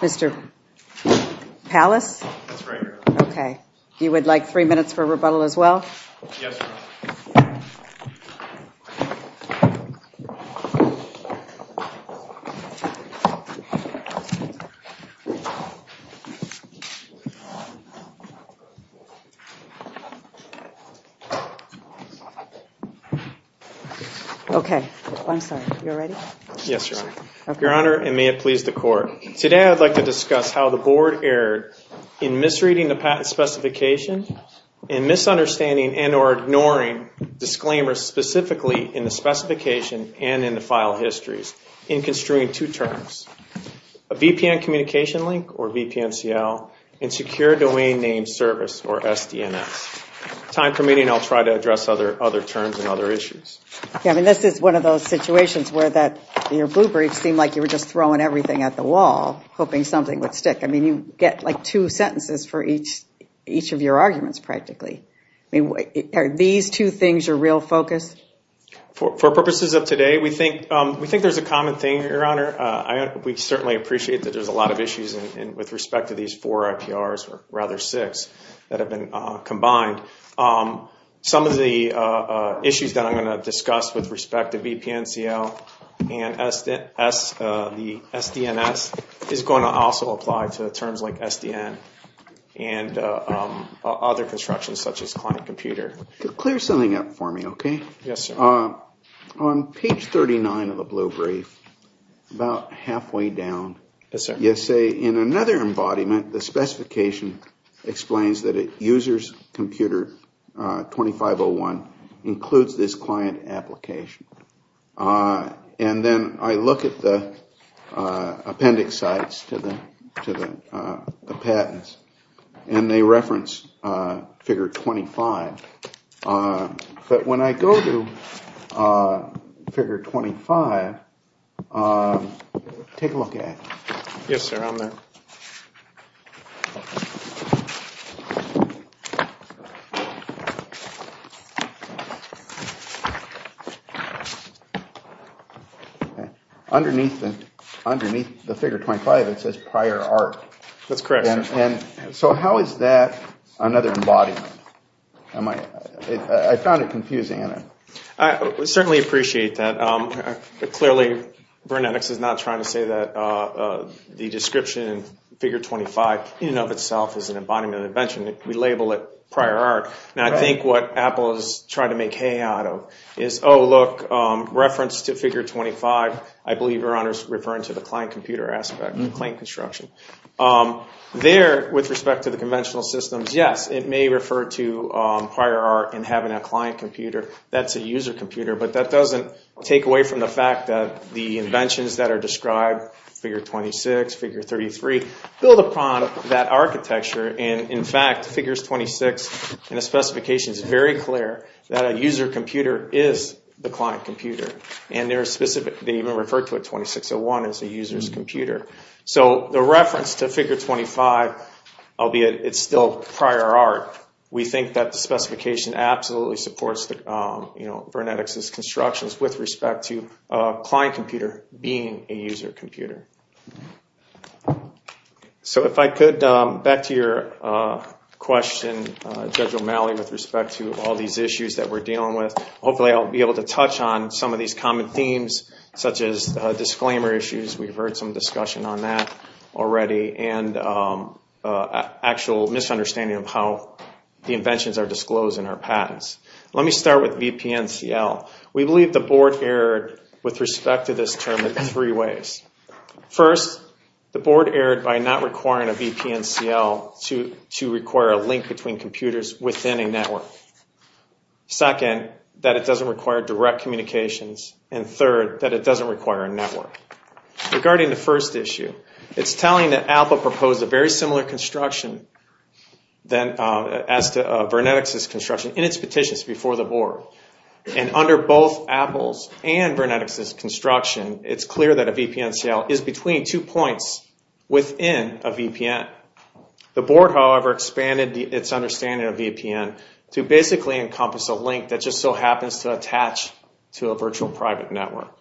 Mr. Pallas, that's right. Okay, you would like three minutes for rebuttal as well Okay, I'm sorry. You're ready? Yes, Your Honor. Your Honor, and may it please the Court. Today I'd like to discuss how the Board erred in misreading the patent specification and misunderstanding and or ignoring disclaimers specifically in the specification and in the file histories in construing two terms, a VPN communication link or VPN CL and secure domain name service or SDNS. Time permitting, I'll try to address other terms and other issues. Yeah, I mean this is one of those situations where that your blue brief seemed like you were just throwing everything at the wall hoping something would stick. I mean you get like two sentences for each of your arguments practically. Are these two things your real focus? For purposes of today, we think there's a common thing, Your Honor. We certainly appreciate that there's a lot of issues with respect to these four IPRs or rather six that have been combined. Some of the issues that I'm going to discuss with you, Your Honor, are in terms like SDN and other constructions such as client computer. Clear something up for me, okay? Yes, sir. On page 39 of the blue brief, about halfway down, you say in another embodiment, the specification explains that a user's computer 2501 includes this client application. And then I look at the appendix sites to the patents and they reference figure 25. But when I go to figure 25, take a look at it. Yes, sir. I'm there. Underneath the figure 25, it says prior art. That's correct, Your Honor. So how is that another embodiment? I found it confusing. I certainly appreciate that. Clearly, Burnetics is not trying to say that the description figure 25 in and of itself is an embodiment of invention. We label it prior art. Now, I think what Apple is trying to make hay out of is, oh, look, reference to figure 25, I believe, Your Honor, is referring to the client computer aspect, the claim construction. There, with respect to the conventional systems, yes, it may refer to prior art in having a client computer. That's a user computer. But that doesn't take away from the fact that the inventions that are described, figure 26, figure 33, build upon that architecture. And in fact, figures 26 in the specification is very clear that a user computer is the client computer. And they even refer to it 2601 as a user's computer. So the reference to figure 25, albeit it's still prior art, we think that the specification absolutely supports Burnetics' constructions with respect to a client computer being a user computer. So if I could, back to your question, Judge O'Malley, with respect to all these issues that we're dealing with. Hopefully, I'll be able to touch on some of these common themes, such as disclaimer issues. We've heard some discussion on that already. And actual misunderstanding of how the inventions are disclosed in our patents. Let me start with VPNCL. We believe the Board erred with respect to this term in three ways. First, the Board erred by not requiring a VPNCL to require a link between computers within a network. Second, that it doesn't require direct communications. And third, that it doesn't require a network. Regarding the first example, Apple proposed a very similar construction as to Burnetics' construction in its petitions before the Board. And under both Apple's and Burnetics' construction, it's clear that a VPNCL is between two points within a VPN. The Board, however, expanded its understanding of VPN to basically encompass a link that just so happens to attach to a virtual private network.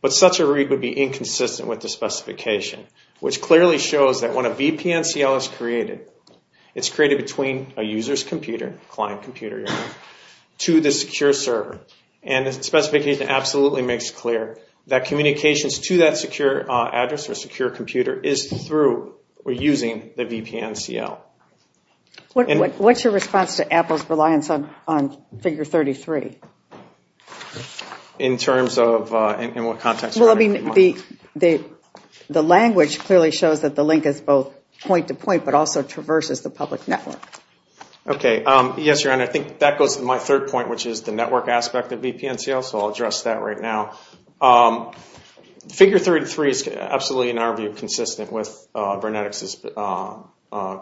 But such a read would be that when a VPNCL is created, it's created between a user's computer, client computer, to the secure server. And the specification absolutely makes it clear that communications to that secure address or secure computer is through or using the VPNCL. What's your response to Apple's reliance on figure 33? In what context? The language clearly shows that the link is both point-to-point but also traverses the public network. Okay. Yes, Your Honor. I think that goes to my third point, which is the network aspect of VPNCL, so I'll address that right now. Figure 33 is absolutely, in our view, consistent with Burnetics'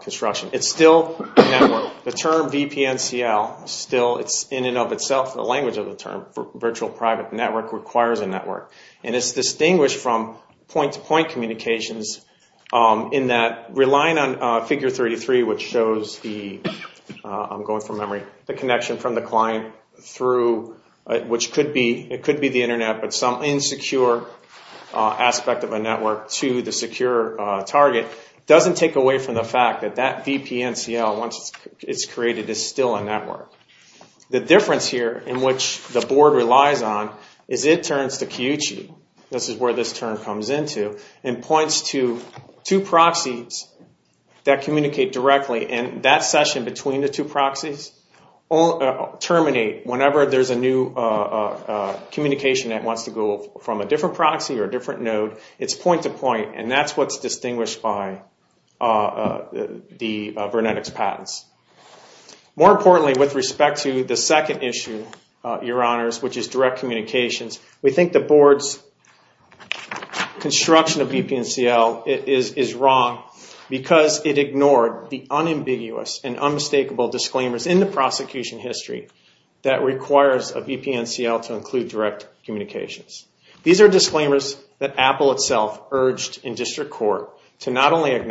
construction. It's still a network. The term VPNCL still, in and of itself, the language of the term, virtual private network, requires a network. And it's distinguished from point-to-point communications in that relying on figure 33, which shows the connection from the client through, which could be the internet, but some insecure aspect of a network to the secure target, doesn't take away from the fact that that VPNCL, once it's created, is still a network. The difference here, in which the board relies on, is it turns to Kyuchi. This is where this term comes into, and points to two proxies that communicate directly. And that session between the two proxies terminate whenever there's a new communication that wants to go from a different proxy or a different node. It's point-to-point, and that's what's distinguished by the Burnetics' patents. More importantly, with respect to the second issue, your honors, which is direct communications, we think the board's construction of VPNCL is wrong because it ignored the unambiguous and unmistakable disclaimers in the prosecution history that requires a VPNCL to include direct communications. These are disclaimers that Apple itself urged in district court to not only I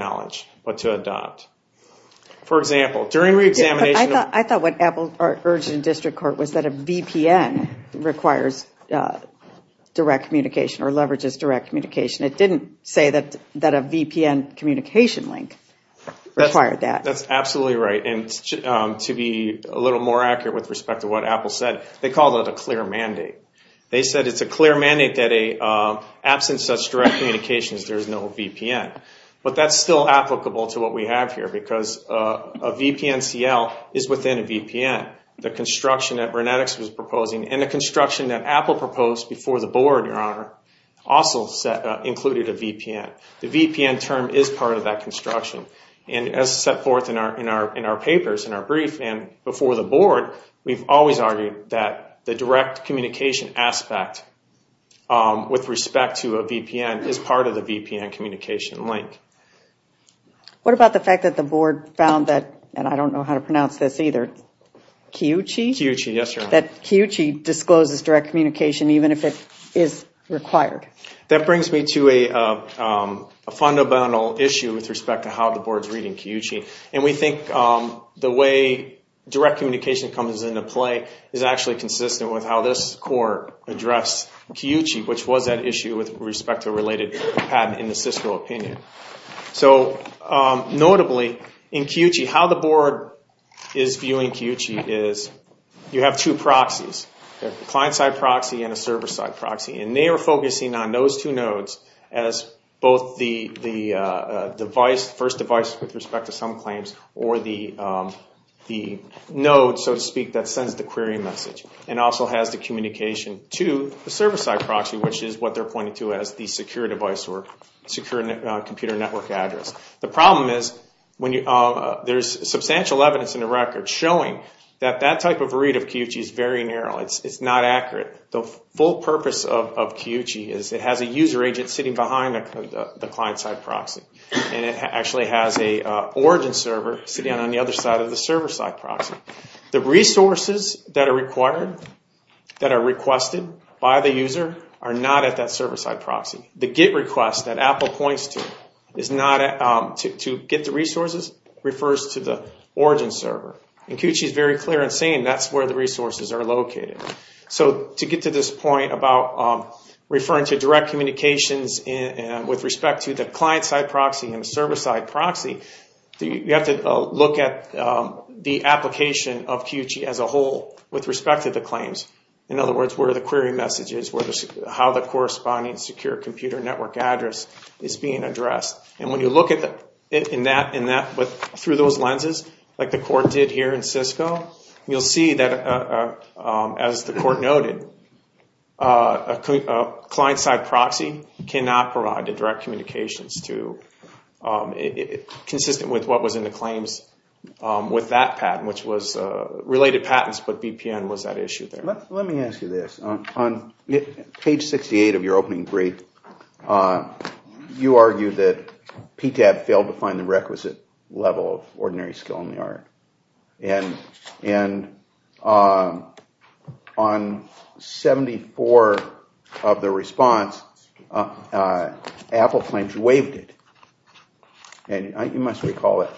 thought what Apple urged in district court was that a VPN requires direct communication or leverages direct communication. It didn't say that a VPN communication link required that. That's absolutely right, and to be a little more accurate with respect to what Apple said, they called it a clear mandate. They said it's a VPNCL is within a VPN. The construction that Burnetics was proposing and the construction that Apple proposed before the board, your honor, also included a VPN. The VPN term is part of that construction. And as set forth in our papers, in our brief, and before the board, we've always argued that the direct communication aspect with respect to a VPN is part of the VPN communication link. What about the fact that the board found that, and I don't know how to pronounce this either, Kiyuchi? Kiyuchi, yes, your honor. That Kiyuchi discloses direct communication even if it is required. That brings me to a fundamental issue with respect to how the board's reading Kiyuchi. And we think the way direct communication comes into play is actually consistent with how this court addressed Kiyuchi, which was that issue with respect to a related patent in the Cisco opinion. Notably, in Kiyuchi, how the board is viewing Kiyuchi is you have two proxies. You have a client-side proxy and a server-side proxy. And they are focusing on those two nodes as both the first device with respect to some claims or the node, so to speak, that sends the query message and also has the communication to the server-side proxy, which is what they're pointing to as the secure device or secure computer network address. The problem is there's substantial evidence in the record showing that that type of read of Kiyuchi is very narrow. It's not accurate. The full purpose of Kiyuchi is it has a user agent sitting behind the client-side proxy. And it actually has an origin server sitting on the other side of the server-side proxy. The resources that are required, that are requested by the user, are not at that server-side proxy. The GET request that Apple points to to get the resources refers to the origin server. And Kiyuchi is very clear in saying that's where the resources are located. So to get to this point about referring to direct communications with respect to the client-side proxy and the server-side proxy, you have to look at the application of Kiyuchi as a whole with respect to the claims. In other words, where the query message is, how the corresponding secure computer network address is being addressed. And when you look at it through those lenses, like the court did here in Cisco, you'll see that, as the court noted, a client-side proxy cannot provide the direct communications consistent with what was in the claims with that patent, which was related patents, but BPN was at issue there. Let me ask you this. On page 68 of your opening brief, you argued that PTAB failed to find the requisite level of ordinary skill in the art. And on 74 of the response, Apple claims you waived it. And you must recall it,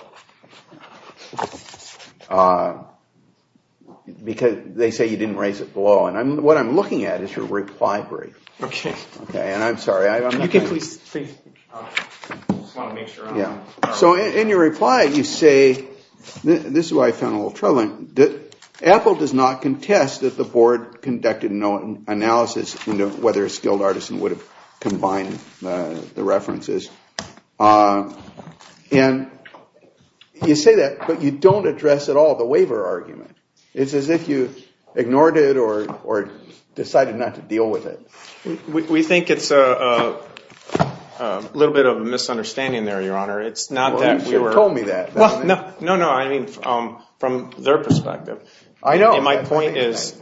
because they say you didn't raise it below. And what I'm looking at is your reply brief. And I'm sorry. So in your reply, you say, this is what I found a little troubling, that Apple does not contest that the board conducted no analysis into whether a skilled artisan would have combined the references. And you say that, but you don't address at all the waiver argument. It's as if you ignored it or decided not to deal with it. We think it's a little bit of a misunderstanding there, Your Honor. Well, you should have told me that. No, no, I mean from their perspective. I know. And my point is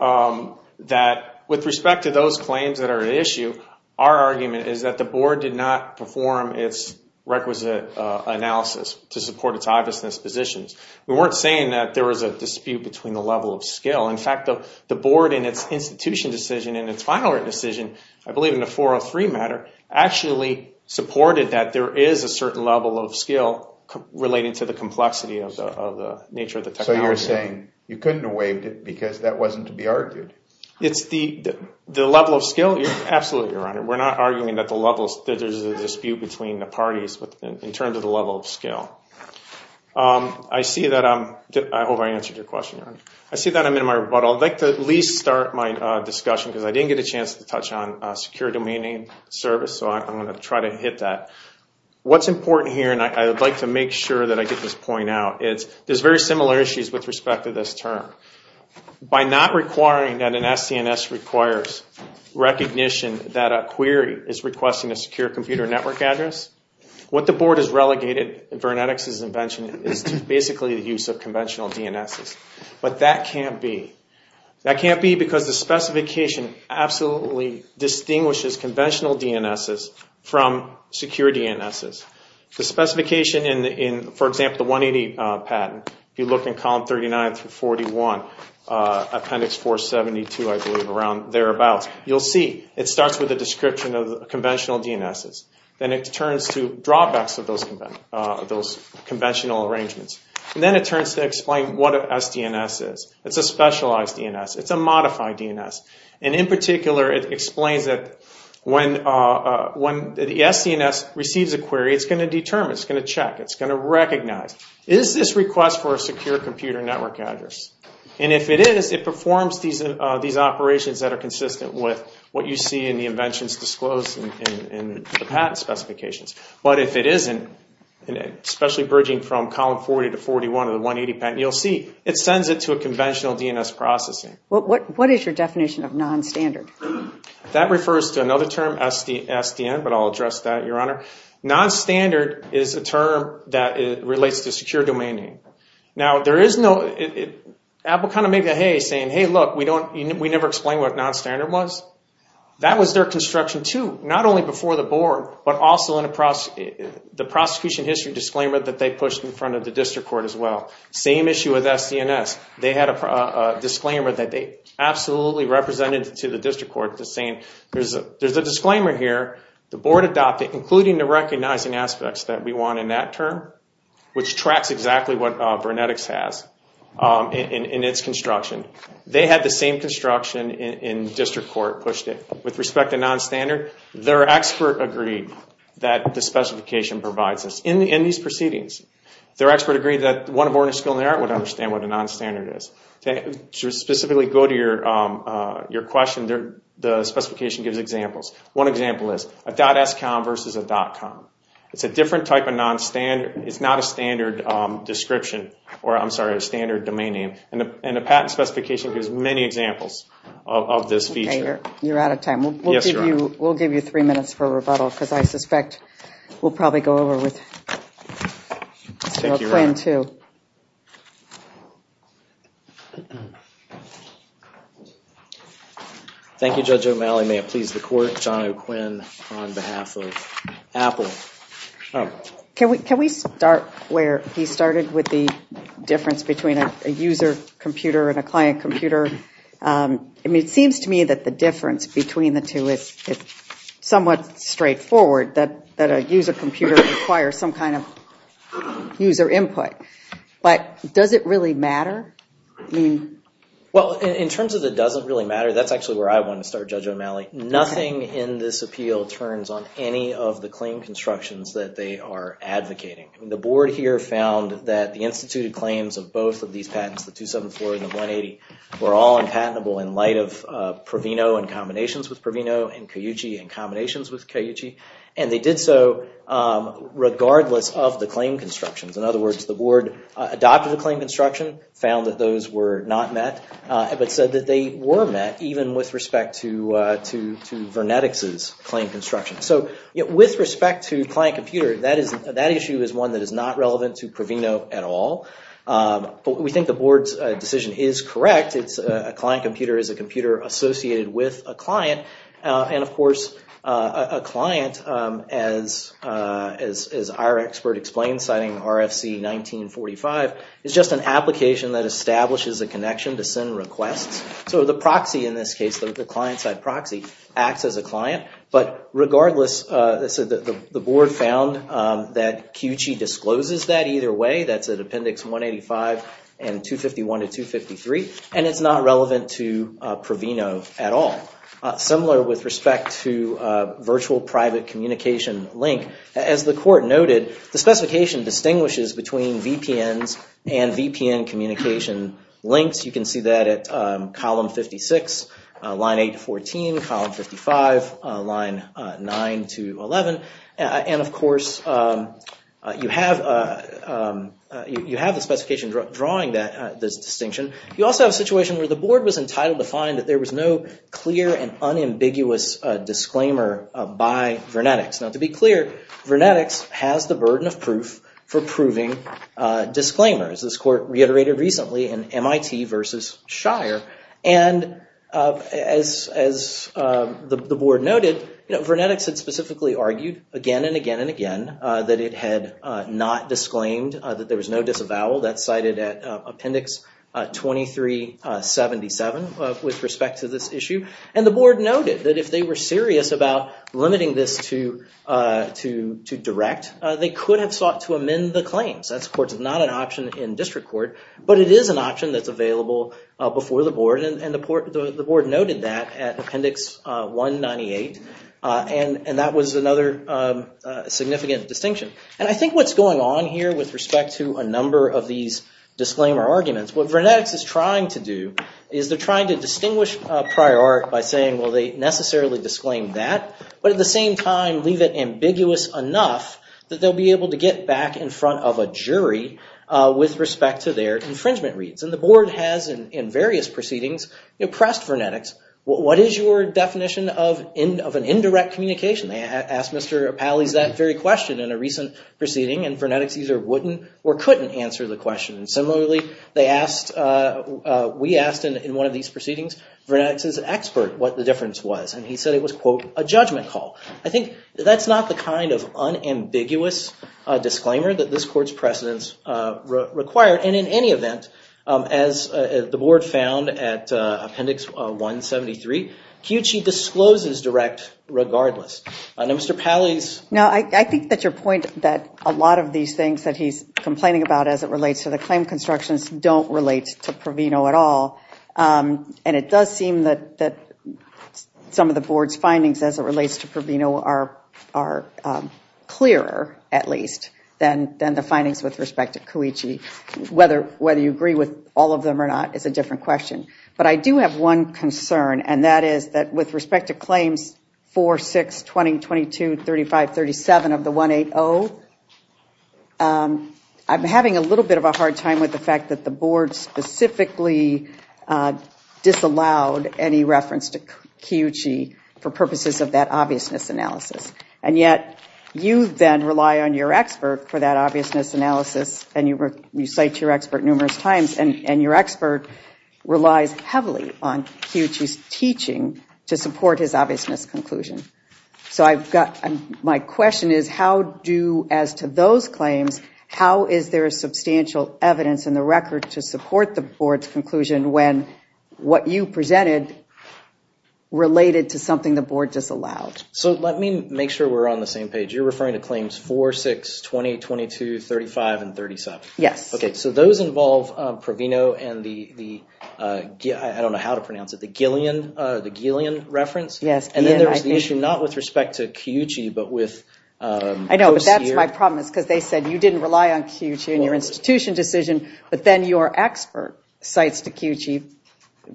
that with respect to those claims that are at issue, our argument is that the board did not perform its requisite analysis to support its obvious dispositions. We weren't saying that there was a dispute between the level of skill. In fact, the board in its institution decision, in its final decision, I believe in the 403 matter, actually supported that there is a certain level of skill relating to the complexity of the nature of the technology. So you're saying you couldn't have waived it because that wasn't to be argued? The level of skill? Absolutely, Your Honor. We're not arguing that there's a dispute between the parties in terms of the level of skill. I see that I'm in my rebuttal. I'd like to at least start my discussion because I didn't get a chance to touch on secure domain name service, so I'm going to try to hit that. What's important here, and I would like to make sure that I get this point out, is there's very similar issues with respect to this term. By not requiring that an SCNS requires recognition that a query is requesting a secure computer network address, what the board has relegated Vernetix's invention is basically the use of conventional DNSs. But that can't be. That can't be because the specification absolutely distinguishes conventional DNSs from secure DNSs. The specification in, for example, the 180 patent, if you look in column 39 through 41, appendix 472, I believe, around thereabouts, you'll see it starts with a description of conventional DNSs. Then it turns to drawbacks of those conventional arrangements. Then it turns to explain what an SDNS is. It's a specialized DNS. It's a modified DNS. In particular, it explains that when the SDNS receives a query, it's going to determine, it's going to check, it's going to recognize, is this request for a secure computer network address? And if it is, it performs these operations that are consistent with what you see in the inventions disclosed in the patent specifications. But if it isn't, especially bridging from column 40 to 41 of the 180 patent, you'll see it sends it to a conventional DNS processing. What is your definition of non-standard? That refers to another term, SDN, but I'll address that, Your Honor. Non-standard is a term that relates to secure domain name. Now, Apple kind of made the hay saying, hey, look, we never explained what non-standard was. That was their construction too, not only before the board, but also in the prosecution history disclaimer that they pushed in front of the district court as well. Same issue with SDNS. They had a disclaimer that they absolutely represented to the district court saying, there's a disclaimer here, the board adopted, including the recognizing aspects that we want in that term, which tracks exactly what Vernetics has in its construction. They had the same construction and district court pushed it. With respect to non-standard, their expert agreed that the specification provides this. In these proceedings, their expert agreed that one of Ornish School of the Art would understand what a non-standard is. To specifically go to your question, the specification gives examples. One example is a .scom versus a .com. It's a different type of non-standard. It's not a standard description, or I'm sorry, a standard domain name. And the patent specification gives many examples of this feature. You're out of time. We'll give you three minutes for rebuttal because I suspect we'll probably go over with plan two. Thank you, Judge O'Malley. May it please the court, John O'Quinn on behalf of Apple. Can we start where he started with the difference between a user computer and a client computer? It seems to me that the difference between the two is somewhat straightforward, that a user computer requires some kind of user input. But does it really matter? Well, in terms of it doesn't really matter, that's actually where I want to start, Judge O'Malley. Nothing in this appeal turns on any of the claim constructions that they are advocating. The board here found that the instituted claims of both of these patents, the 274 and the 180, were all unpatentable in light of Proveno and combinations with Proveno and Cayuchi and combinations with Cayuchi. And they did so regardless of the claim constructions. In other words, the board adopted the claim construction, found that those were not met, but said that they were met even with respect to Vernetix's claim construction. So with respect to client computer, that issue is one that is not relevant to Proveno at all. But we think the board's decision is correct. A client computer is a computer associated with a client. And of course, a client, as our expert explains, citing RFC 1945, is just an application that establishes a connection to send requests. So the proxy in this case, the client-side proxy, acts as a client. But regardless, the board found that Cayuchi discloses that either way. That's at Appendix 185 and 251 to 253. And it's not relevant to Proveno at all. Similar with respect to virtual private communication link. As the court noted, the specification distinguishes between VPNs and VPN communication links. You can see that at column 56, line 8 to 14, column 55, line 9 to 11. And of course, you have the specification drawing this distinction. You also have a situation where the board was entitled to find that there was no clear and unambiguous disclaimer by Vernetics. Now to be clear, Vernetics has the burden of proof for proving disclaimers. This court reiterated recently in MIT versus Shire. And as the board noted, Vernetics had specifically argued again and again and again that it had not disclaimed, that there was no disavowal. That's cited at Appendix 2377 with respect to this issue. And the board noted that if they were serious about limiting this to direct, they could have sought to amend the claims. That's not an option in district court. But it is an option that's available before the board. And the board noted that at Appendix 198. And that was another significant distinction. And I think what's going on here with respect to a number of these disclaimer arguments, what Vernetics is trying to do is they're trying to distinguish prior art by saying, well, they necessarily disclaimed that, but at the same time leave it ambiguous enough that they'll be able to get back in front of a jury with respect to their infringement reads. And the board has, in various proceedings, pressed Vernetics. What is your definition of an indirect communication? They asked Mr. Pally's that very question in a recent proceeding. And Vernetics either wouldn't or couldn't answer the question. Similarly, we asked in one of these proceedings Vernetics' expert what the difference was. And he said it was, quote, a judgment call. I think that's not the kind of unambiguous disclaimer that this court's precedence required. And in any event, as the board found at Appendix 173, Cuici discloses direct regardless. Now, Mr. Pally's. Now, I think that your point that a lot of these things that he's complaining about as it relates to the claim constructions don't relate to Proveno at all. And it does seem that some of the board's findings as it relates to Proveno are clearer, at least, than the findings with respect to Cuici. Whether you agree with all of them or not is a different question. But I do have one concern, and that is that with respect to claims 4, 6, 20, 22, 35, 37 of the 180, I'm having a little bit of a hard time with the fact that the board specifically disallowed any reference to Cuici for purposes of that obviousness analysis. And yet, you then rely on your expert for that obviousness analysis, and you cite your expert numerous times, and your expert relies heavily on Cuici's teaching to support his obviousness conclusion. So I've got my question is how do as to those claims, how is there substantial evidence in the record to support the board's conclusion when what you presented related to something the board disallowed? So let me make sure we're on the same page. You're referring to claims 4, 6, 20, 22, 35, and 37. Yes. Okay, so those involve Proveno and the, I don't know how to pronounce it, the Gillian reference? Yes. And then there's the issue not with respect to Cuici but with- I know, but that's my problem is because they said you didn't rely on Cuici in your institution decision, but then your expert cites to Cuici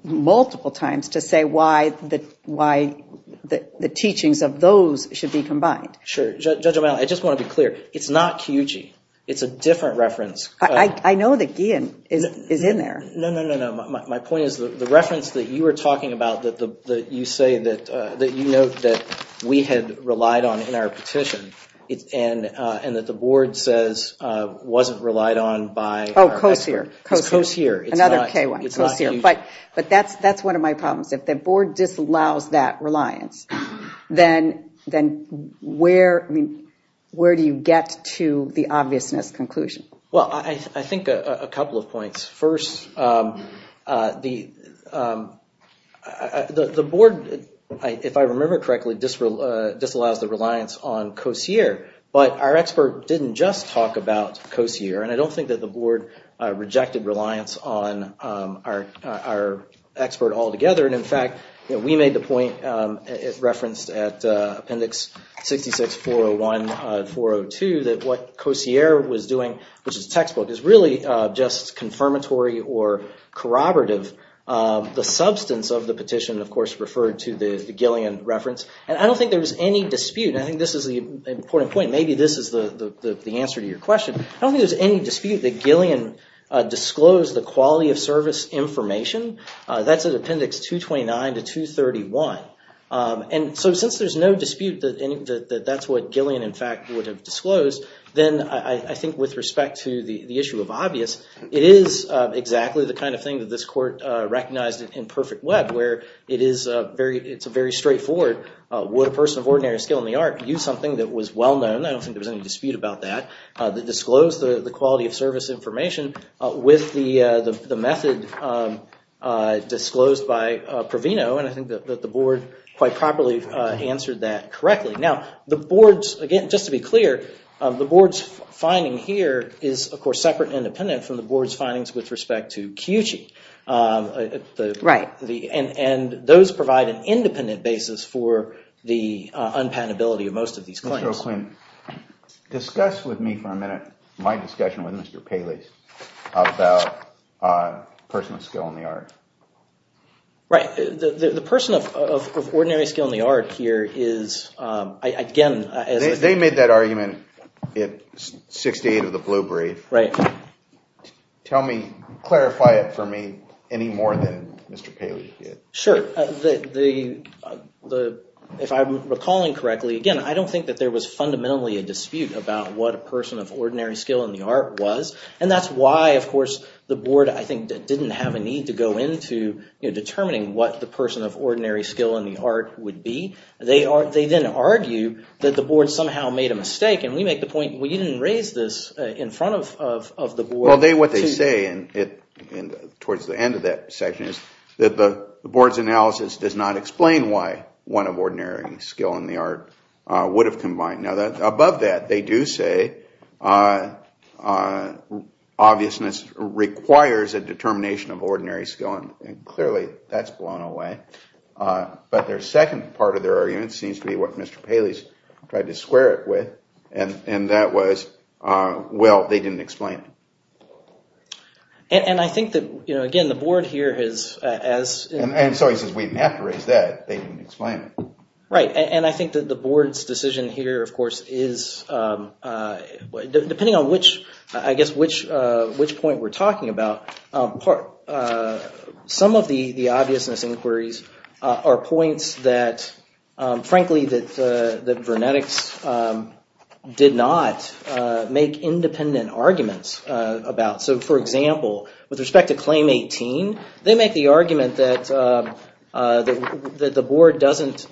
multiple times to say why the teachings of those should be combined. Sure. Judge O'Malley, I just want to be clear. It's not Cuici. It's a different reference. I know that Gillian is in there. No, no, no, no. My point is the reference that you were talking about that you say that you note that we had relied on in our petition and that the board says wasn't relied on by- Oh, Coasear. It's Coasear. Another K1. But that's one of my problems. If the board disallows that reliance, then where do you get to the obviousness conclusion? Well, I think a couple of points. First, the board, if I remember correctly, disallows the reliance on Coasear, but our expert didn't just talk about Coasear, and I don't think that the board rejected reliance on our expert altogether. In fact, we made the point referenced at Appendix 66-401-402 that what Coasear was doing, which is textbook, is really just confirmatory or corroborative. The substance of the petition, of course, referred to the Gillian reference, and I don't think there was any dispute. I think this is the important point. Maybe this is the answer to your question. I don't think there's any dispute that Gillian disclosed the quality of service information. That's at Appendix 229-231. And so since there's no dispute that that's what Gillian, in fact, would have disclosed, then I think with respect to the issue of obvious, it is exactly the kind of thing that this court recognized in Perfect Web, where it's very straightforward. Would a person of ordinary skill in the art use something that was well-known? I don't think there was any dispute about that. They disclosed the quality of service information with the method disclosed by Proveno, and I think that the board quite properly answered that correctly. Now, the board's, again, just to be clear, the board's finding here is, of course, separate and independent from the board's findings with respect to Kiyuchi. Right. And those provide an independent basis for the unpatentability of most of these claims. Mr. O'Quinn, discuss with me for a minute my discussion with Mr. Paley about a person of skill in the art. Right. The person of ordinary skill in the art here is, again— They made that argument at 68 of the Blue Brief. Right. Tell me, clarify it for me any more than Mr. Paley did. Sure. If I'm recalling correctly, again, I don't think that there was fundamentally a dispute about what a person of ordinary skill in the art was, and that's why, of course, the board, I think, didn't have a need to go into determining what the person of ordinary skill in the art would be. They then argue that the board somehow made a mistake, and we make the point, well, you didn't raise this in front of the board. Well, what they say towards the end of that section is that the board's analysis does not explain why one of ordinary skill in the art would have combined. Now, above that, they do say obviousness requires a determination of ordinary skill, and clearly that's blown away. But their second part of their argument seems to be what Mr. Paley's tried to square it with, and that was, well, they didn't explain it. And I think that, again, the board here has— And so he says we didn't have to raise that. They didn't explain it. Right, and I think that the board's decision here, of course, is— I guess which point we're talking about, some of the obviousness inquiries are points that, frankly, that Vernetics did not make independent arguments about. So, for example, with respect to Claim 18, they make the argument that the board doesn't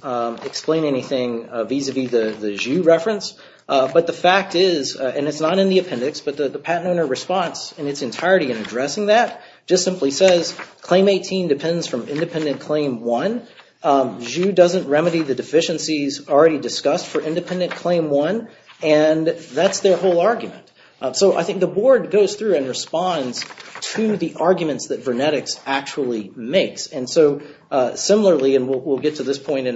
explain anything vis-a-vis the Jus reference. But the fact is, and it's not in the appendix, but the patent owner response in its entirety in addressing that just simply says Claim 18 depends from Independent Claim 1. Jus doesn't remedy the deficiencies already discussed for Independent Claim 1, and that's their whole argument. So I think the board goes through and responds to the arguments that Vernetics actually makes. And so, similarly, and we'll get to this point,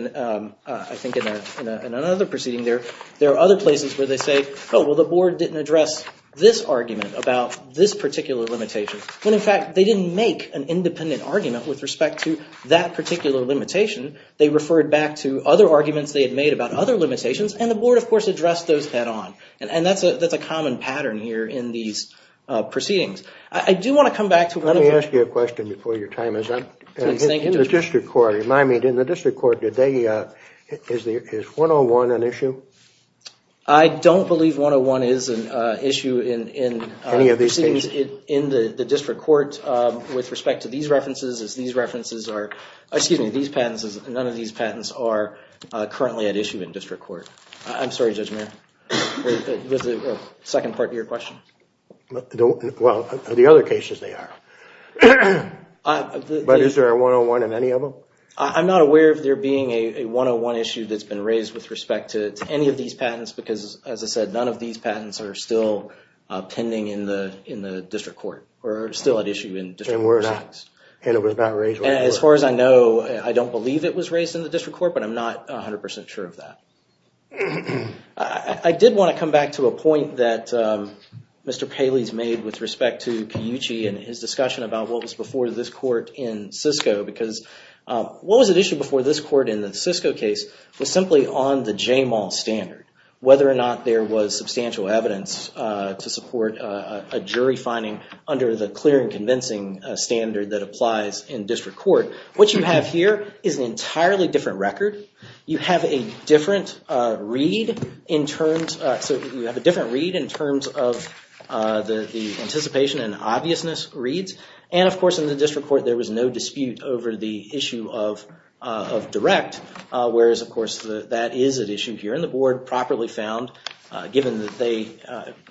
I think, in another proceeding there, there are other places where they say, oh, well, the board didn't address this argument about this particular limitation. When, in fact, they didn't make an independent argument with respect to that particular limitation. They referred back to other arguments they had made about other limitations, and the board, of course, addressed those head-on. And that's a common pattern here in these proceedings. Let me ask you a question before your time is up. In the district court today, is 101 an issue? I don't believe 101 is an issue in proceedings in the district court with respect to these references. None of these patents are currently at issue in district court. I'm sorry, Judge Mayer. There's a second part to your question. Well, the other cases they are. But is there a 101 in any of them? I'm not aware of there being a 101 issue that's been raised with respect to any of these patents, because, as I said, none of these patents are still pending in the district court, or still at issue in district court proceedings. And it was not raised? As far as I know, I don't believe it was raised in the district court, but I'm not 100% sure of that. I did want to come back to a point that Mr. Paley's made with respect to Kiyuchi and his discussion about what was before this court in Cisco, because what was at issue before this court in the Cisco case was simply on the JMAL standard, whether or not there was substantial evidence to support a jury finding under the clear and convincing standard that applies in district court. What you have here is an entirely different record. You have a different read in terms of the anticipation and obviousness reads. And, of course, in the district court, there was no dispute over the issue of direct, whereas, of course, that is at issue here in the board, properly found, given that they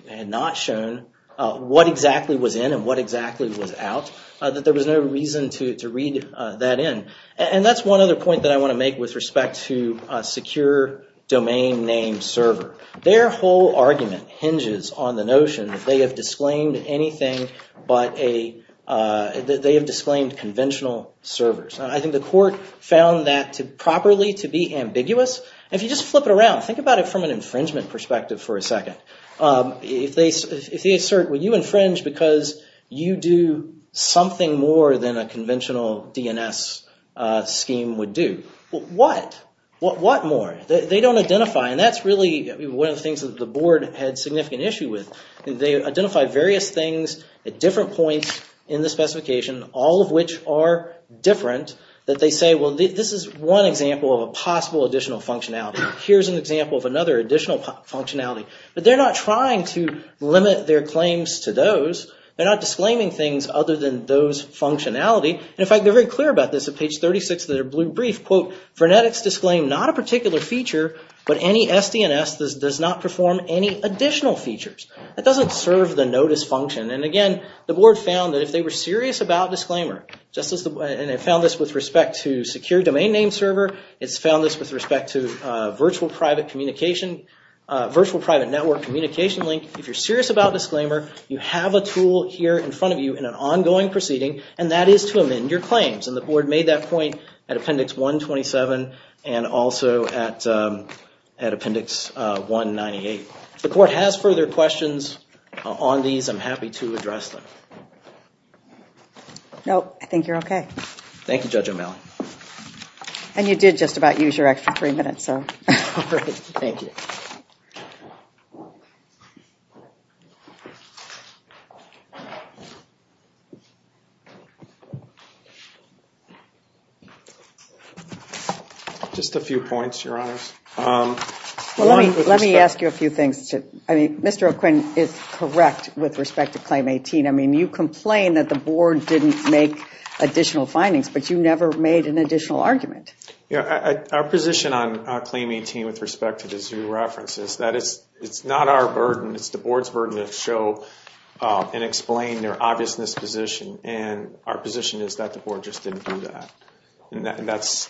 had not shown what exactly was in and what exactly was out, that there was no reason to read that in. And that's one other point that I want to make with respect to secure domain name server. Their whole argument hinges on the notion that they have disclaimed anything but a, that they have disclaimed conventional servers. And I think the court found that to properly to be ambiguous. If you just flip it around, think about it from an infringement perspective for a second. If they assert, well, you infringe because you do something more than a conventional DNS scheme would do. Well, what? What more? They don't identify, and that's really one of the things that the board had significant issue with. They identified various things at different points in the specification, all of which are different, that they say, well, this is one example of a possible additional functionality. Here's an example of another additional functionality. But they're not trying to limit their claims to those. They're not disclaiming things other than those functionality. In fact, they're very clear about this at page 36 of their blue brief. Quote, Vernetics disclaim not a particular feature, but any SDNS does not perform any additional features. That doesn't serve the notice function. And again, the board found that if they were serious about disclaimer, and it found this with respect to secure domain name server, it's found this with respect to virtual private communication, virtual private network communication link. If you're serious about disclaimer, you have a tool here in front of you in an ongoing proceeding, and that is to amend your claims. And the board made that point at Appendix 127 and also at Appendix 198. If the court has further questions on these, I'm happy to address them. No, I think you're OK. Thank you, Judge O'Malley. And you did just about use your extra three minutes. Thank you. Just a few points, Your Honors. Let me ask you a few things. Mr. O'Quinn is correct with respect to Claim 18. I mean, you complain that the board didn't make additional findings, but you never made an additional argument. Our position on Claim 18 with respect to the zoo reference is that it's not our burden. It's the board's burden to show and explain their obviousness position. And our position is that the board just didn't do that. And that's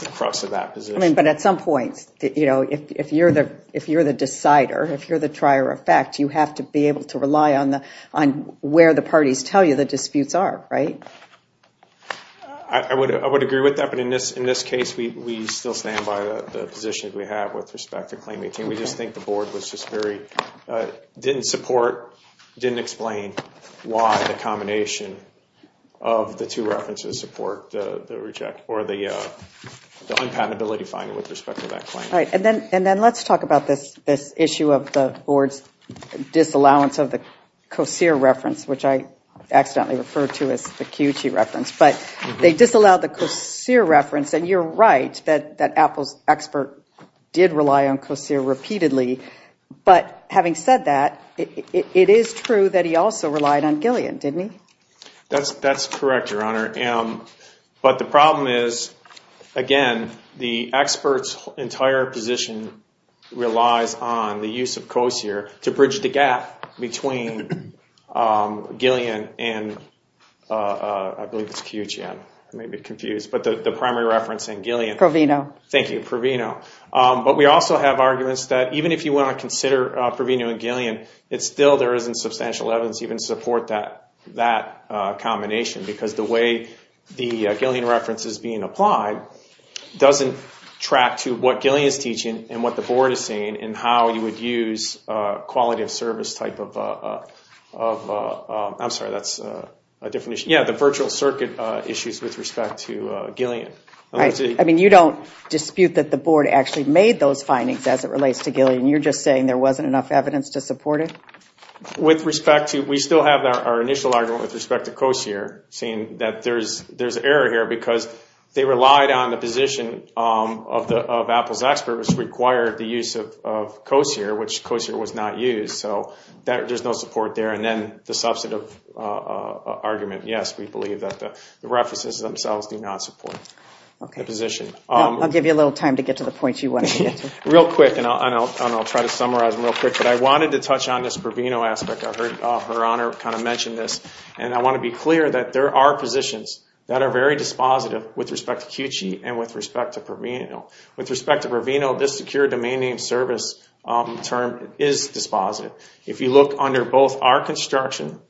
the crux of that position. But at some point, if you're the decider, if you're the trier of fact, you have to be able to rely on where the parties tell you the disputes are, right? I would agree with that. But in this case, we still stand by the position that we have with respect to Claim 18. We just think the board didn't support, didn't explain why the combination of the two references support the unpatentability finding with respect to that claim. Right. And then let's talk about this issue of the board's disallowance of the COSEER reference, which I accidentally referred to as the QG reference. But they disallowed the COSEER reference. And you're right that Apple's expert did rely on COSEER repeatedly. But having said that, it is true that he also relied on Gillian, didn't he? That's correct, Your Honor. But the problem is, again, the expert's entire position relies on the use of COSEER to bridge the gap between Gillian and I believe it's QGM. I may be confused. But the primary reference in Gillian. Proveno. Thank you, Proveno. But we also have arguments that even if you want to consider Proveno and Gillian, it's still there isn't substantial evidence to even support that combination. Because the way the Gillian reference is being applied doesn't track to what Gillian is teaching and what the board is saying and how you would use quality of service type of – I'm sorry, that's a different issue. Yeah, the virtual circuit issues with respect to Gillian. I mean, you don't dispute that the board actually made those findings as it relates to Gillian. You're just saying there wasn't enough evidence to support it? With respect to – we still have our initial argument with respect to COSEER saying that there's error here because they relied on the position of Apple's expert which required the use of COSEER, which COSEER was not used. So there's no support there. And then the substantive argument, yes, we believe that the references themselves do not support the position. I'll give you a little time to get to the points you wanted to get to. Real quick, and I'll try to summarize real quick. But I wanted to touch on this Proveno aspect. I heard Her Honor kind of mention this. And I want to be clear that there are positions that are very dispositive with respect to QG and with respect to Proveno. With respect to Proveno, this secure domain name service term is dispositive. If you look under both our construction,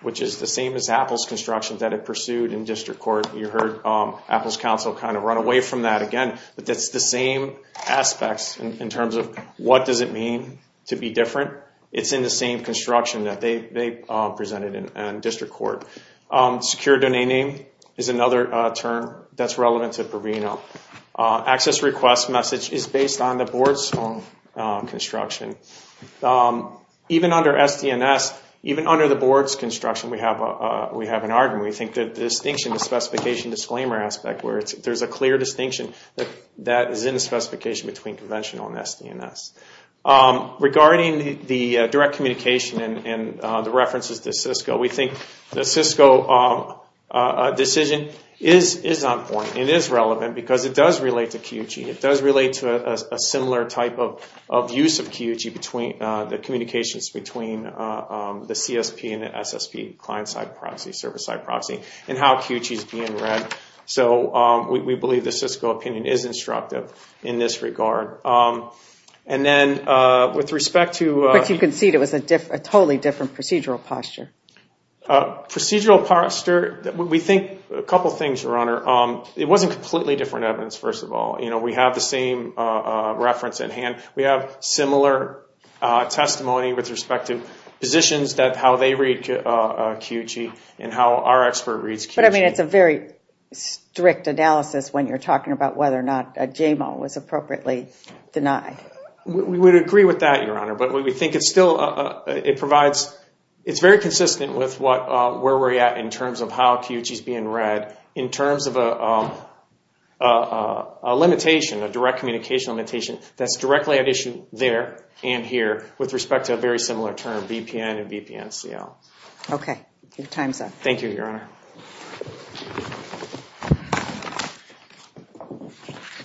which is the same as Apple's construction that it pursued in district court, you heard Apple's counsel kind of run away from that again. But that's the same aspects in terms of what does it mean to be different. It's in the same construction that they presented in district court. Secure domain name is another term that's relevant to Proveno. Access request message is based on the board's own construction. Even under SD&S, even under the board's construction, we have an argument. We think that the distinction, the specification disclaimer aspect where there's a clear distinction that is in the specification between conventional and SD&S. Regarding the direct communication and the references to Cisco, we think the Cisco decision is on point. It is relevant because it does relate to QG. It does relate to a similar type of use of QG between the communications between the CSP and the SSP client-side proxy, service-side proxy, and how QG is being read. We believe the Cisco opinion is instructive in this regard. And then with respect to- But you can see it was a totally different procedural posture. Procedural posture, we think a couple things, Your Honor. It wasn't completely different evidence, first of all. We have the same reference at hand. We have similar testimony with respect to positions that how they read QG and how our expert reads QG. But, I mean, it's a very strict analysis when you're talking about whether or not a JMO was appropriately denied. But we think it still provides- It's very consistent with where we're at in terms of how QG is being read in terms of a limitation, a direct communication limitation, that's directly at issue there and here with respect to a very similar term, VPN and VPN CL. Okay. Your time's up. Thank you, Your Honor.